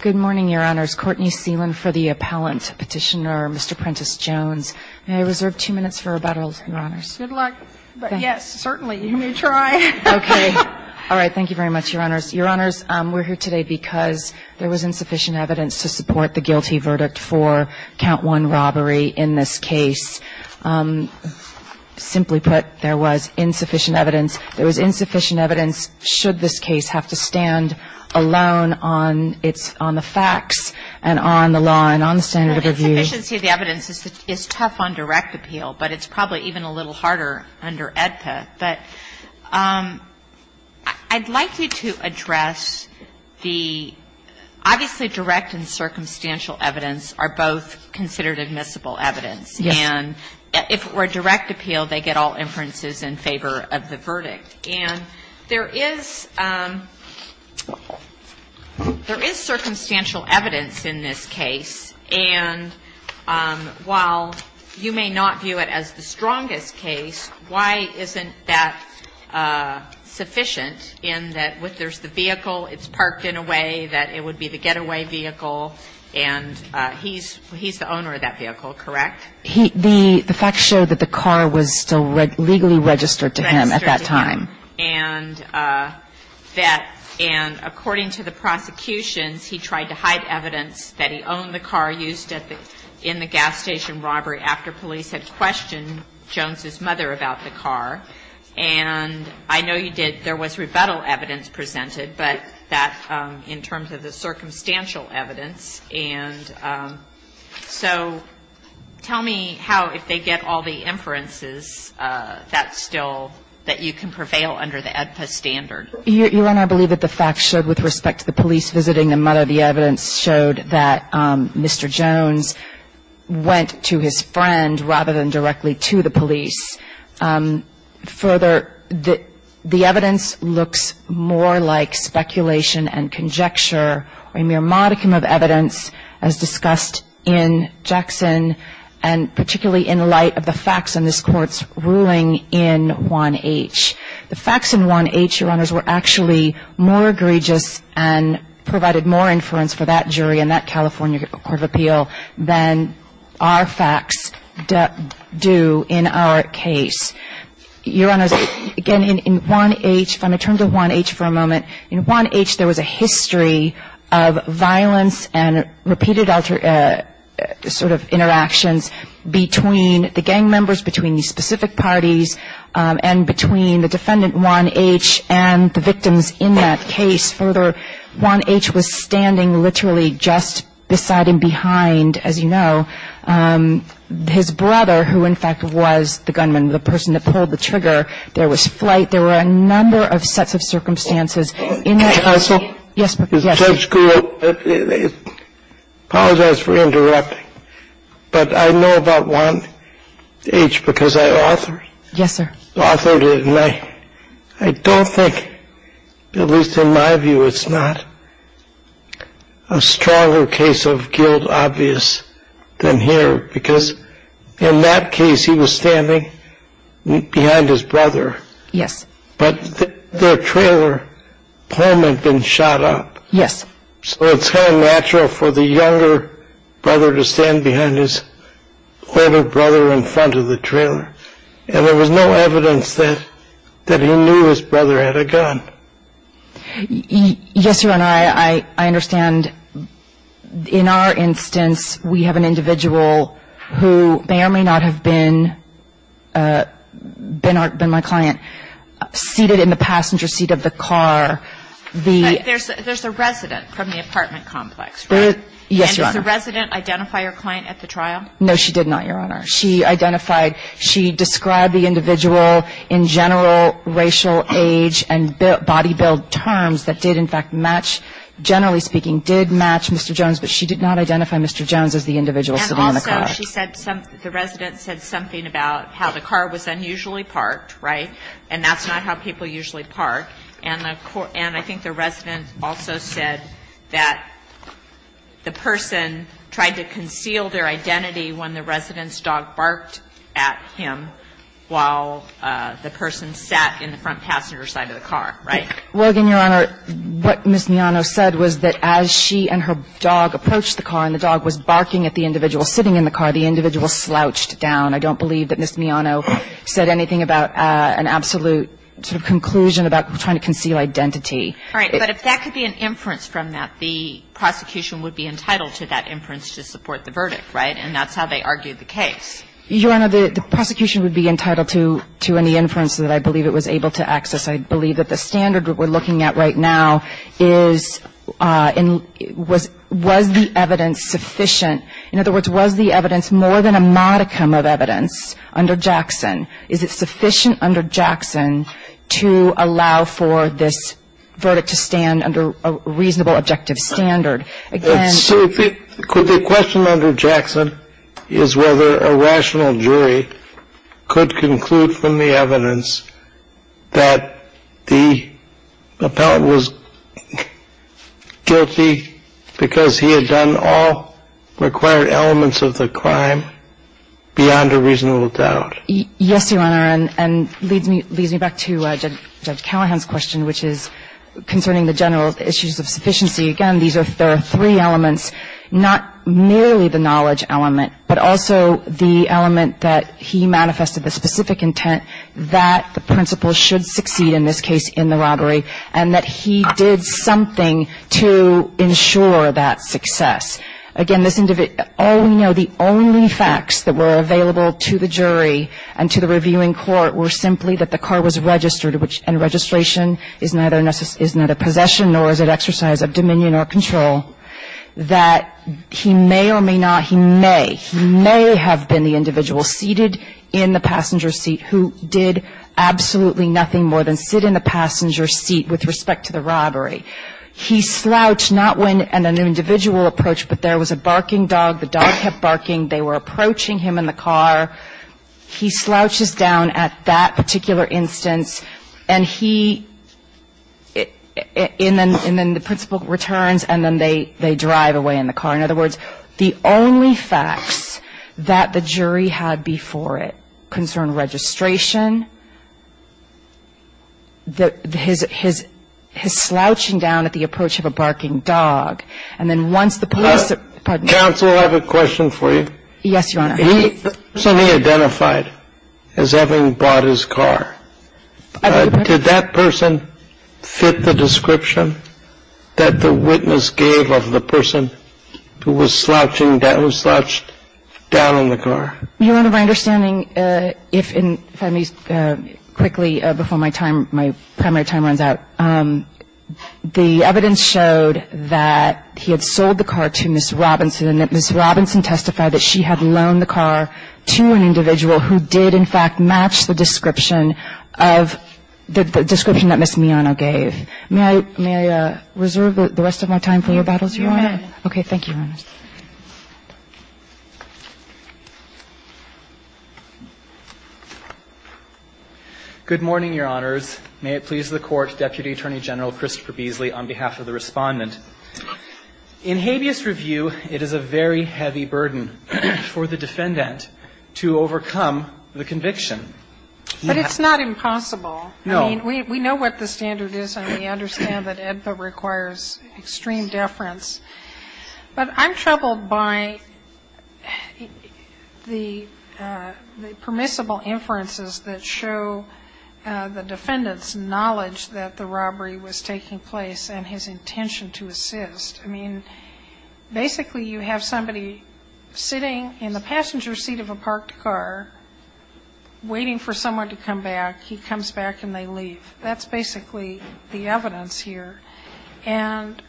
Good morning, Your Honors. Courtney Seeland for the appellant petitioner, Mr. Prentice Jones. May I reserve two minutes for rebuttals, Your Honors? Good luck. But yes, certainly. You may try. Okay. All right. Thank you very much, Your Honors. Your Honors, we're here today because there was insufficient evidence to support the guilty verdict for count one robbery in this case. Simply put, there was insufficient evidence. There was insufficient evidence should this case have to stand alone on the facts and on the law and on the standard of review. The insufficiency of the evidence is tough on direct appeal, but it's probably even a little harder under AEDPA. But I'd like you to address the obviously direct and circumstantial evidence are both considered admissible evidence. Yes. And if it were direct appeal, they get all inferences in favor of the verdict. And there is circumstantial evidence in this case, and while you may not view it as the strongest case, why isn't that sufficient in that there's the vehicle, it's parked in a way that it would be the getaway vehicle, and he's the owner of that vehicle, correct? The facts show that the car was still legally registered to him at that time. Registered to him. And that, and according to the prosecutions, he tried to hide evidence that he owned the car used in the gas station robbery after police had questioned Jones's mother about the car. And I know you did, there was rebuttal evidence presented, but that in terms of the circumstantial evidence, and so tell me how, if they get all the inferences, that still, that you can prevail under the AEDPA standard. Your Honor, I believe that the facts showed with respect to the police visiting the mother, the evidence showed that Mr. Jones went to his friend rather than directly to the police. Further, the evidence looks more like speculation and conjecture, a mere modicum of evidence as discussed in Jackson, and particularly in light of the facts in this Court's ruling in 1H. The facts in 1H, Your Honors, were actually more egregious and provided more inference for that jury in that California Court of Appeal than our facts do in our case. Your Honors, again, in 1H, if I may turn to 1H for a moment. In 1H, there was a history of violence and repeated sort of interactions between the gang members, between the specific parties, and between the defendant, 1H, and the victims in that case. Further, 1H was standing literally just beside and behind, as you know, his brother, who in fact was the gunman, the person that pulled the trigger. There was police presence there. There was flight. There were a number of sets of circumstances. In that case — Can I ask one — Yes, please. — as a Judge Gould? Apologize for interrupting, but I know about 1H because I authored — Yes, sir. — authored it. I don't think, at least in my view, it's not a stronger case of guilt obvious than here, because in that case he was standing behind his brother. Yes. But their trailer home had been shot up. Yes. So it's kind of natural for the younger brother to stand behind his older brother in front of the trailer. And there was no evidence that he knew his brother had a gun. Yes, Your Honor, I understand. In our instance, we have an individual who may or may not have been my client, seated in the passenger seat of the car. There's a resident from the apartment complex, right? Yes, Your Honor. And does the resident identify her client at the trial? No, she did not, Your Honor. She identified — she described the individual in general racial age and body build terms that did, in fact, match — generally speaking, did match Mr. Jones, but she did not identify Mr. Jones as the individual sitting in the car. And also she said — the resident said something about how the car was unusually parked, right? And that's not how people usually park. And I think the resident also said that the person tried to conceal their identity when the resident's dog barked at him while the person sat in the front passenger side of the car, right? Well, again, Your Honor, what Ms. Miano said was that as she and her dog approached the car and the dog was barking at the individual sitting in the car, the individual slouched down. I don't believe that Ms. Miano said anything about an absolute sort of conclusion about trying to conceal identity. All right. But if that could be an inference from that, the prosecution would be entitled to that inference to support the verdict, right? And that's how they argued the case. Your Honor, the prosecution would be entitled to any inference that I believe it was able to access. I believe that the standard we're looking at right now is — was the evidence sufficient? In other words, was the evidence more than a modicum of evidence under Jackson? Is it sufficient under Jackson to allow for this verdict to stand under a reasonable objective standard? So the question under Jackson is whether a rational jury could conclude from the evidence that the appellant was guilty because he had done all required elements of the crime beyond a reasonable doubt. Yes, Your Honor. And it leads me back to Judge Callahan's question, which is concerning the general issues of sufficiency. Again, these are — there are three elements, not merely the knowledge element, but also the element that he manifested the specific intent that the principal should succeed in this case in the robbery, and that he did something to ensure that success. Again, this — all we know, the only facts that were available to the jury and to the reviewing court were simply that the car was registered, which — and registration is neither a — is not a possession nor is it exercise of dominion or control — that he may or may not, he may, he may have been the individual seated in the passenger seat who did absolutely nothing more than sit in the passenger seat with respect to the robbery. He slouched, not when an individual approached, but there was a barking dog. The dog kept barking. They were approaching him in the car. He slouches down at that particular instance, and he — and then the principal returns, and then they drive away in the car. In other words, the only facts that the jury had before it concerned registration, his slouching down at the approach of a barking dog, and then once the police — pardon me. Counsel, I have a question for you. Yes, Your Honor. The person he identified as having bought his car, did that person fit the description that the witness gave of the person who was slouching — who slouched down in the car? Your Honor, my understanding, if I may quickly, before my time — my primary time runs out — the evidence showed that he had sold the car to Ms. Robinson, and that Ms. Robinson testified that she had loaned the car to an individual who did, in fact, match the description of — the description that Ms. Miano gave. May I reserve the rest of my time for rebuttals, Your Honor? Okay. Thank you, Your Honor. Good morning, Your Honors. May it please the Court, Deputy Attorney General Christopher Beasley, on behalf of the Respondent. In habeas review, it is a very heavy burden for the defendant to overcome the conviction. But it's not impossible. No. I mean, we know what the standard is, and we understand that AEDPA requires extreme deference. But I'm troubled by the permissible inferences that show the defendant's knowledge that the robbery was taking place and his intention to assist. I mean, basically, you have somebody sitting in the passenger seat of a parked car waiting for someone to come back. He comes back, and they leave. That's basically the evidence here. And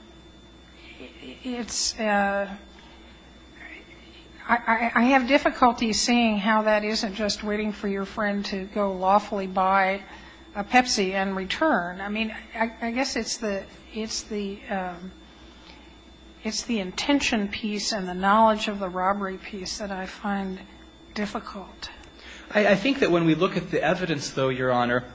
it's — I have difficulty seeing how that isn't just waiting for your friend to go lawfully buy a Pepsi and return. I mean, I guess it's the — it's the intention piece and the knowledge of the robbery piece that I find difficult. I think that when we look at the evidence, though, Your Honor,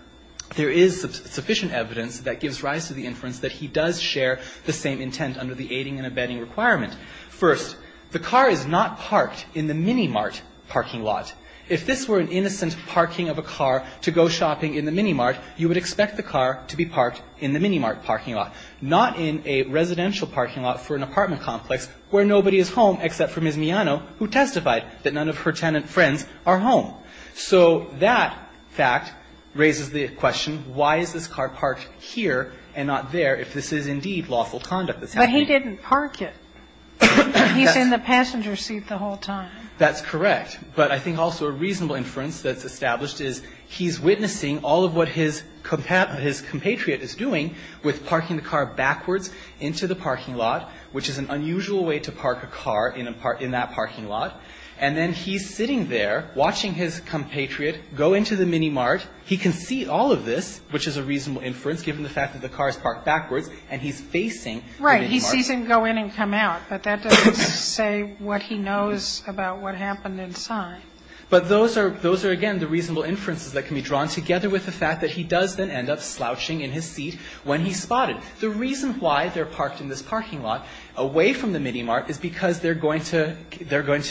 there is sufficient evidence that gives rise to the inference that he does share the same intent under the aiding and abetting requirement. First, the car is not parked in the Minimart parking lot. If this were an innocent parking of a car to go shopping in the Minimart, you would expect the car to be parked in the Minimart parking lot, not in a residential parking lot for an apartment complex where nobody is home except for Ms. Miano, who testified that none of her tenant friends are home. So that fact raises the question, why is this car parked here and not there if this is indeed lawful conduct that's happening? But he didn't park it. He's in the passenger seat the whole time. That's correct. But I think also a reasonable inference that's established is he's witnessing all of what his compatriot is doing with parking the car backwards into the parking lot, which is an unusual way to park a car in that parking lot. And then he's sitting there watching his compatriot go into the Minimart. He can see all of this, which is a reasonable inference given the fact that the car is parked backwards, and he's facing the Minimart. Right. He sees him go in and come out, but that doesn't say what he knows about what happened inside. But those are, again, the reasonable inferences that can be drawn together with the fact that he does then end up slouching in his seat when he's spotted. The reason why they're parked in this parking lot away from the Minimart is because they're going to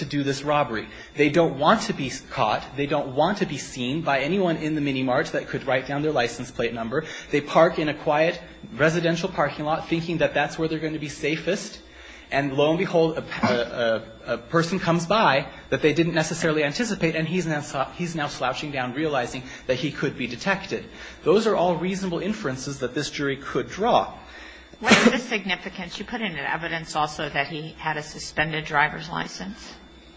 do this robbery. They don't want to be caught. They don't want to be seen by anyone in the Minimart that could write down their license plate number. They park in a quiet residential parking lot, thinking that that's where they're going to be safest. And lo and behold, a person comes by that they didn't necessarily anticipate, and he's now slouching down, realizing that he could be detected. Those are all reasonable inferences that this jury could draw. What's the significance? Didn't you put into evidence also that he had a suspended driver's license?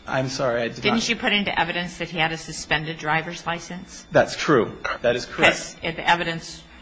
I'm sorry. Didn't you put into evidence that he had a suspended driver's license? That's true. That is correct.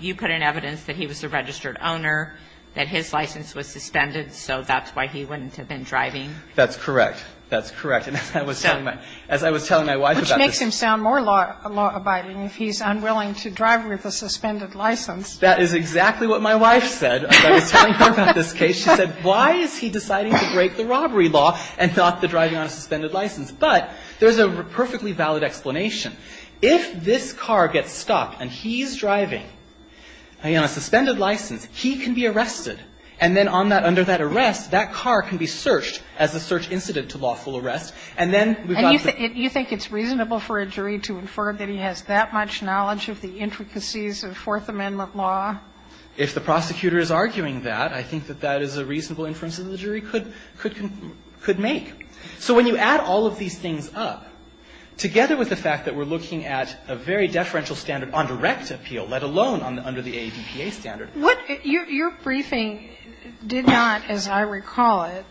You put in evidence that he was a registered owner, that his license was suspended, so that's why he wouldn't have been driving. That's correct. That's correct. As I was telling my wife about this. Which makes him sound more law-abiding if he's unwilling to drive with a suspended license. That is exactly what my wife said as I was telling her about this case. She said, why is he deciding to break the robbery law and not the driving on a suspended license? But there's a perfectly valid explanation. If this car gets stuck and he's driving on a suspended license, he can be arrested. And then on that, under that arrest, that car can be searched as a search incident to lawful arrest. And then we've got the ---- And you think it's reasonable for a jury to infer that he has that much knowledge of the intricacies of Fourth Amendment law? If the prosecutor is arguing that, I think that that is a reasonable inference that a jury could make. So when you add all of these things up, together with the fact that we're looking at a very deferential standard on direct appeal, let alone under the AAVPA standard ---- Your briefing did not, as I recall it,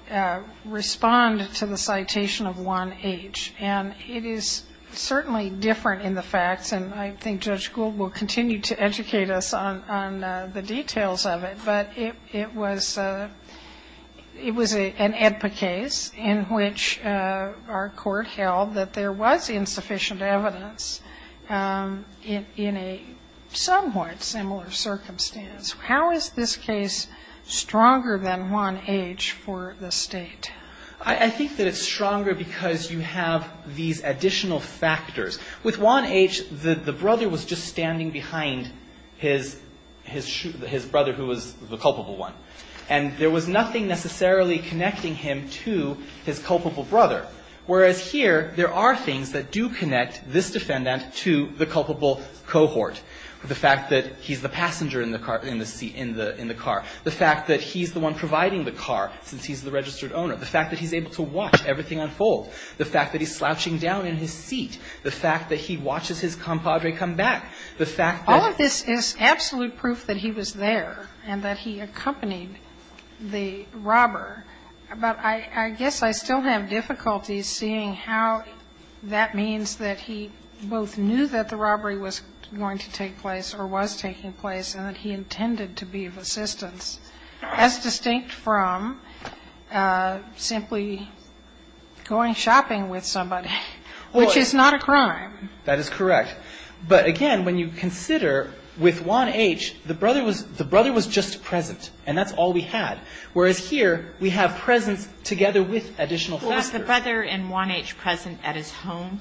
respond to the citation of 1H. And it is certainly different in the facts, and I think Judge Gould will continue to educate us on the details of it. But it was an AEDPA case in which our court held that there was insufficient evidence in a somewhat similar circumstance. How is this case stronger than 1H for the State? I think that it's stronger because you have these additional factors. With 1H, the brother was just standing behind his brother who was the culpable one, and there was nothing necessarily connecting him to his culpable brother. Whereas here, there are things that do connect this defendant to the culpable cohort, the fact that he's the passenger in the car, the fact that he's the one providing the car since he's the registered owner, the fact that he's able to watch everything unfold, the fact that he's slouching down in his seat, the fact that he watches his compadre come back, the fact that ---- All of this is absolute proof that he was there and that he accompanied the robber. But I guess I still have difficulties seeing how that means that he both knew that the robbery was going to take place or was taking place and that he intended to be of assistance as distinct from simply going shopping with somebody, which is not a crime. That is correct. But again, when you consider with 1H, the brother was just present, and that's all we had. Whereas here, we have presence together with additional factors. Was the brother in 1H present at his home?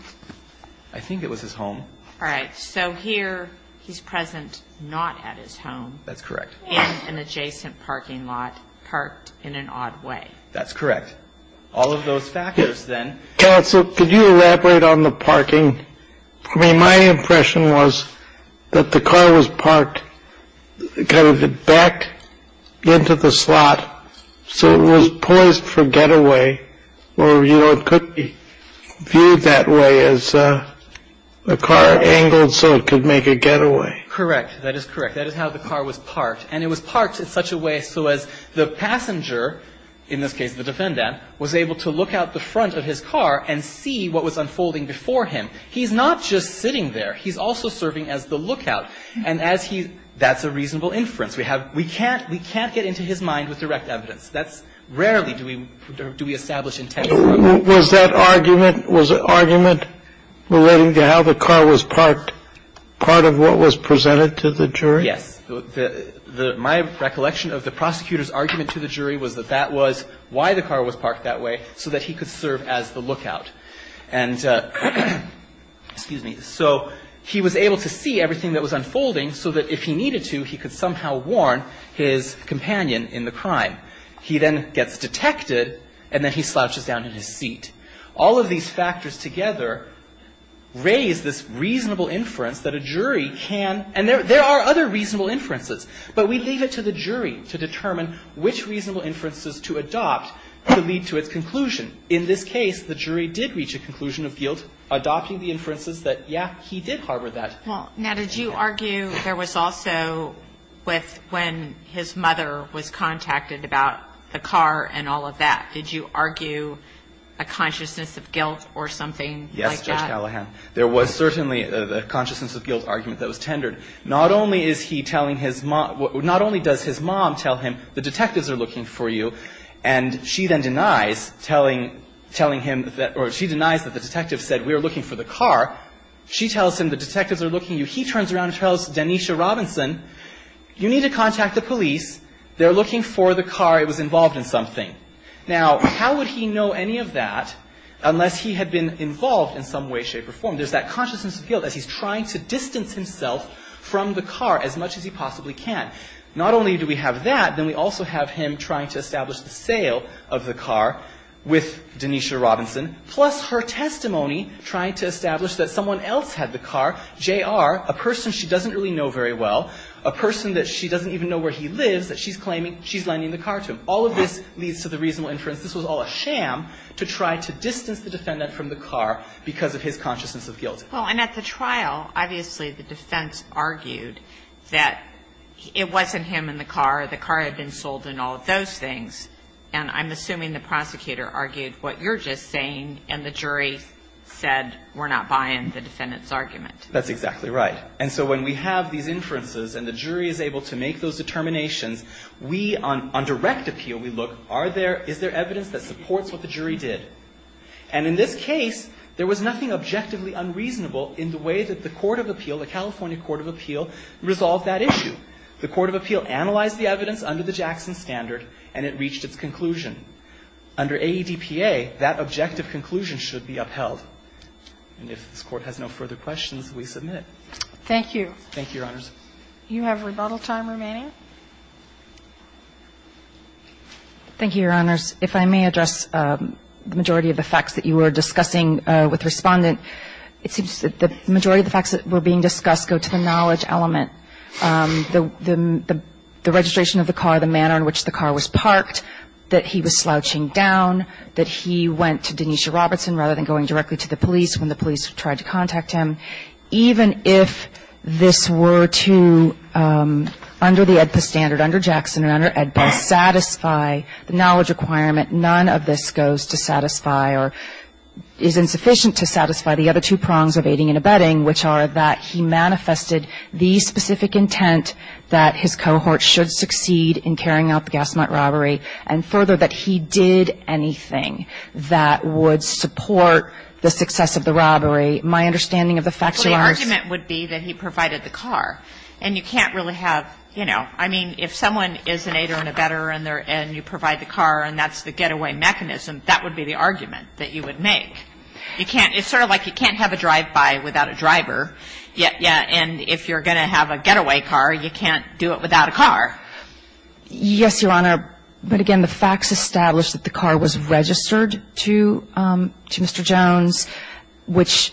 I think it was his home. All right. So here, he's present not at his home. That's correct. And an adjacent parking lot parked in an odd way. That's correct. All of those factors, then. Counsel, could you elaborate on the parking? I mean, my impression was that the car was parked kind of backed into the slot, so it was poised for getaway, or, you know, it could be viewed that way as a car angled so it could make a getaway. Correct. That is correct. That is how the car was parked. And it was parked in such a way so as the passenger, in this case the defendant, was able to look out the front of his car and see what was unfolding before him. He's not just sitting there. He's also serving as the lookout. And as he — that's a reasonable inference. We have — we can't — we can't get into his mind with direct evidence. That's rarely do we — do we establish intent. Was that argument — was the argument relating to how the car was parked part of what was presented to the jury? Yes. My recollection of the prosecutor's argument to the jury was that that was why the car was parked that way, so that he could serve as the lookout. And — excuse me. So he was able to see everything that was unfolding so that if he needed to, he could somehow warn his companion in the crime. He then gets detected, and then he slouches down in his seat. All of these factors together raise this reasonable inference that a jury can — and there are other reasonable inferences, but we leave it to the jury to determine which reasonable inferences to adopt to lead to its conclusion. In this case, the jury did reach a conclusion of guilt adopting the inferences that, yeah, he did harbor that. Well, now, did you argue there was also with when his mother was contacted about the car and all of that? Did you argue a consciousness of guilt or something like that? Yes, Judge Callahan. There was certainly a consciousness of guilt argument that was tendered. Not only is he telling his mom — not only does his mom tell him, the detectives are looking for you, and she then denies telling him that — or she denies that the detectives said, we are looking for the car. She tells him, the detectives are looking for you. He turns around and tells Danesha Robinson, you need to contact the police. They're looking for the car. It was involved in something. Now, how would he know any of that unless he had been involved in some way, shape, or form? There's that consciousness of guilt that he's trying to distance himself from the car as much as he possibly can. Not only do we have that, then we also have him trying to establish the sale of the car with Danesha Robinson, plus her testimony trying to establish that someone else had the car, J.R., a person she doesn't really know very well, a person that she doesn't even know where he lives that she's claiming she's lending the car to him. All of this leads to the reasonable inference this was all a sham to try to distance the defendant from the car because of his consciousness of guilt. Well, and at the trial, obviously the defense argued that it wasn't him and the car. The car had been sold and all of those things. And I'm assuming the prosecutor argued what you're just saying, and the jury said we're not buying the defendant's argument. That's exactly right. And so when we have these inferences and the jury is able to make those determinations, we, on direct appeal, we look, are there – is there evidence that supports what the jury did? And in this case, there was nothing objectively unreasonable in the way that the court of appeal, the California court of appeal, resolved that issue. The court of appeal analyzed the evidence under the Jackson standard and it reached its conclusion. Under AEDPA, that objective conclusion should be upheld. And if this Court has no further questions, we submit. Thank you. Thank you, Your Honors. Do you have rebuttal time remaining? Thank you, Your Honors. If I may address the majority of the facts that you were discussing with Respondent, it seems that the majority of the facts that were being discussed go to the knowledge element. The registration of the car, the manner in which the car was parked, that he was slouching down, that he went to Denise Robertson rather than going directly to the police when the police tried to contact him. Even if this were to, under the AEDPA standard, under Jackson or under AEDPA, satisfy the knowledge requirement, none of this goes to satisfy or is insufficient to satisfy the other two prongs of aiding and abetting, which are that he manifested the specific intent that his cohort should succeed in carrying out the gas mount robbery, and further, that he did anything that would support the success of the investigation. So the argument would be that he provided the car. And you can't really have, you know, I mean, if someone is an aider and abetter and you provide the car and that's the getaway mechanism, that would be the argument that you would make. You can't – it's sort of like you can't have a drive-by without a driver. And if you're going to have a getaway car, you can't do it without a car. Yes, Your Honor. But again, the facts establish that the car was registered to Mr. Jones, which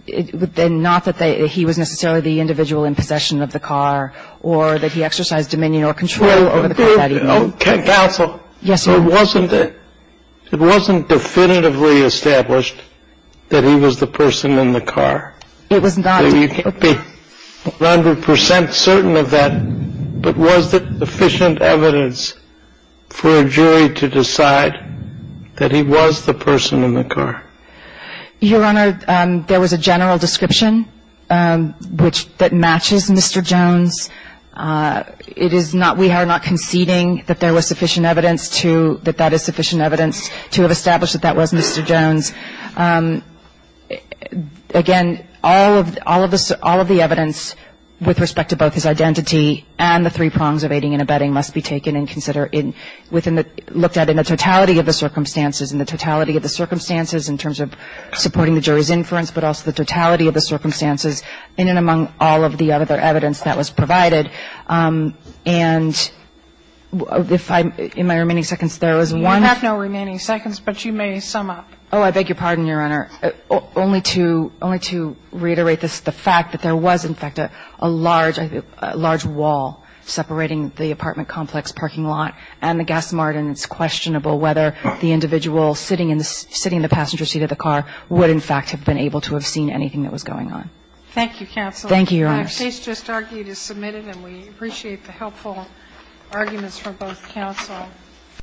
then not that he was necessarily the individual in possession of the car or that he exercised dominion or control over the car that evening. Counsel. Yes, Your Honor. It wasn't definitively established that he was the person in the car. It was not. You can't be 100 percent certain of that. But was there sufficient evidence for a jury to decide that he was the person in the car? Your Honor, there was a general description that matches Mr. Jones. It is not – we are not conceding that there was sufficient evidence to – that that is sufficient evidence to have established that that was Mr. Jones. Again, all of the evidence with respect to both his identity and the three prongs of aiding and abetting must be taken and considered within the – looked at in the totality of the circumstances and the totality of the circumstances in terms of supporting the jury's inference, but also the totality of the circumstances in and among all of the other evidence that was provided. And if I'm – in my remaining seconds, there is one – You have no remaining seconds, but you may sum up. Oh, I beg your pardon, Your Honor. Only to – only to reiterate this, the fact that there was, in fact, a large – a large wall separating the apartment complex parking lot and the gas mart, and it's questionable whether the individual sitting in the passenger seat of the car would, in fact, have been able to have seen anything that was going on. Thank you, counsel. Thank you, Your Honor. The case just argued is submitted, and we appreciate the helpful arguments from both counsel.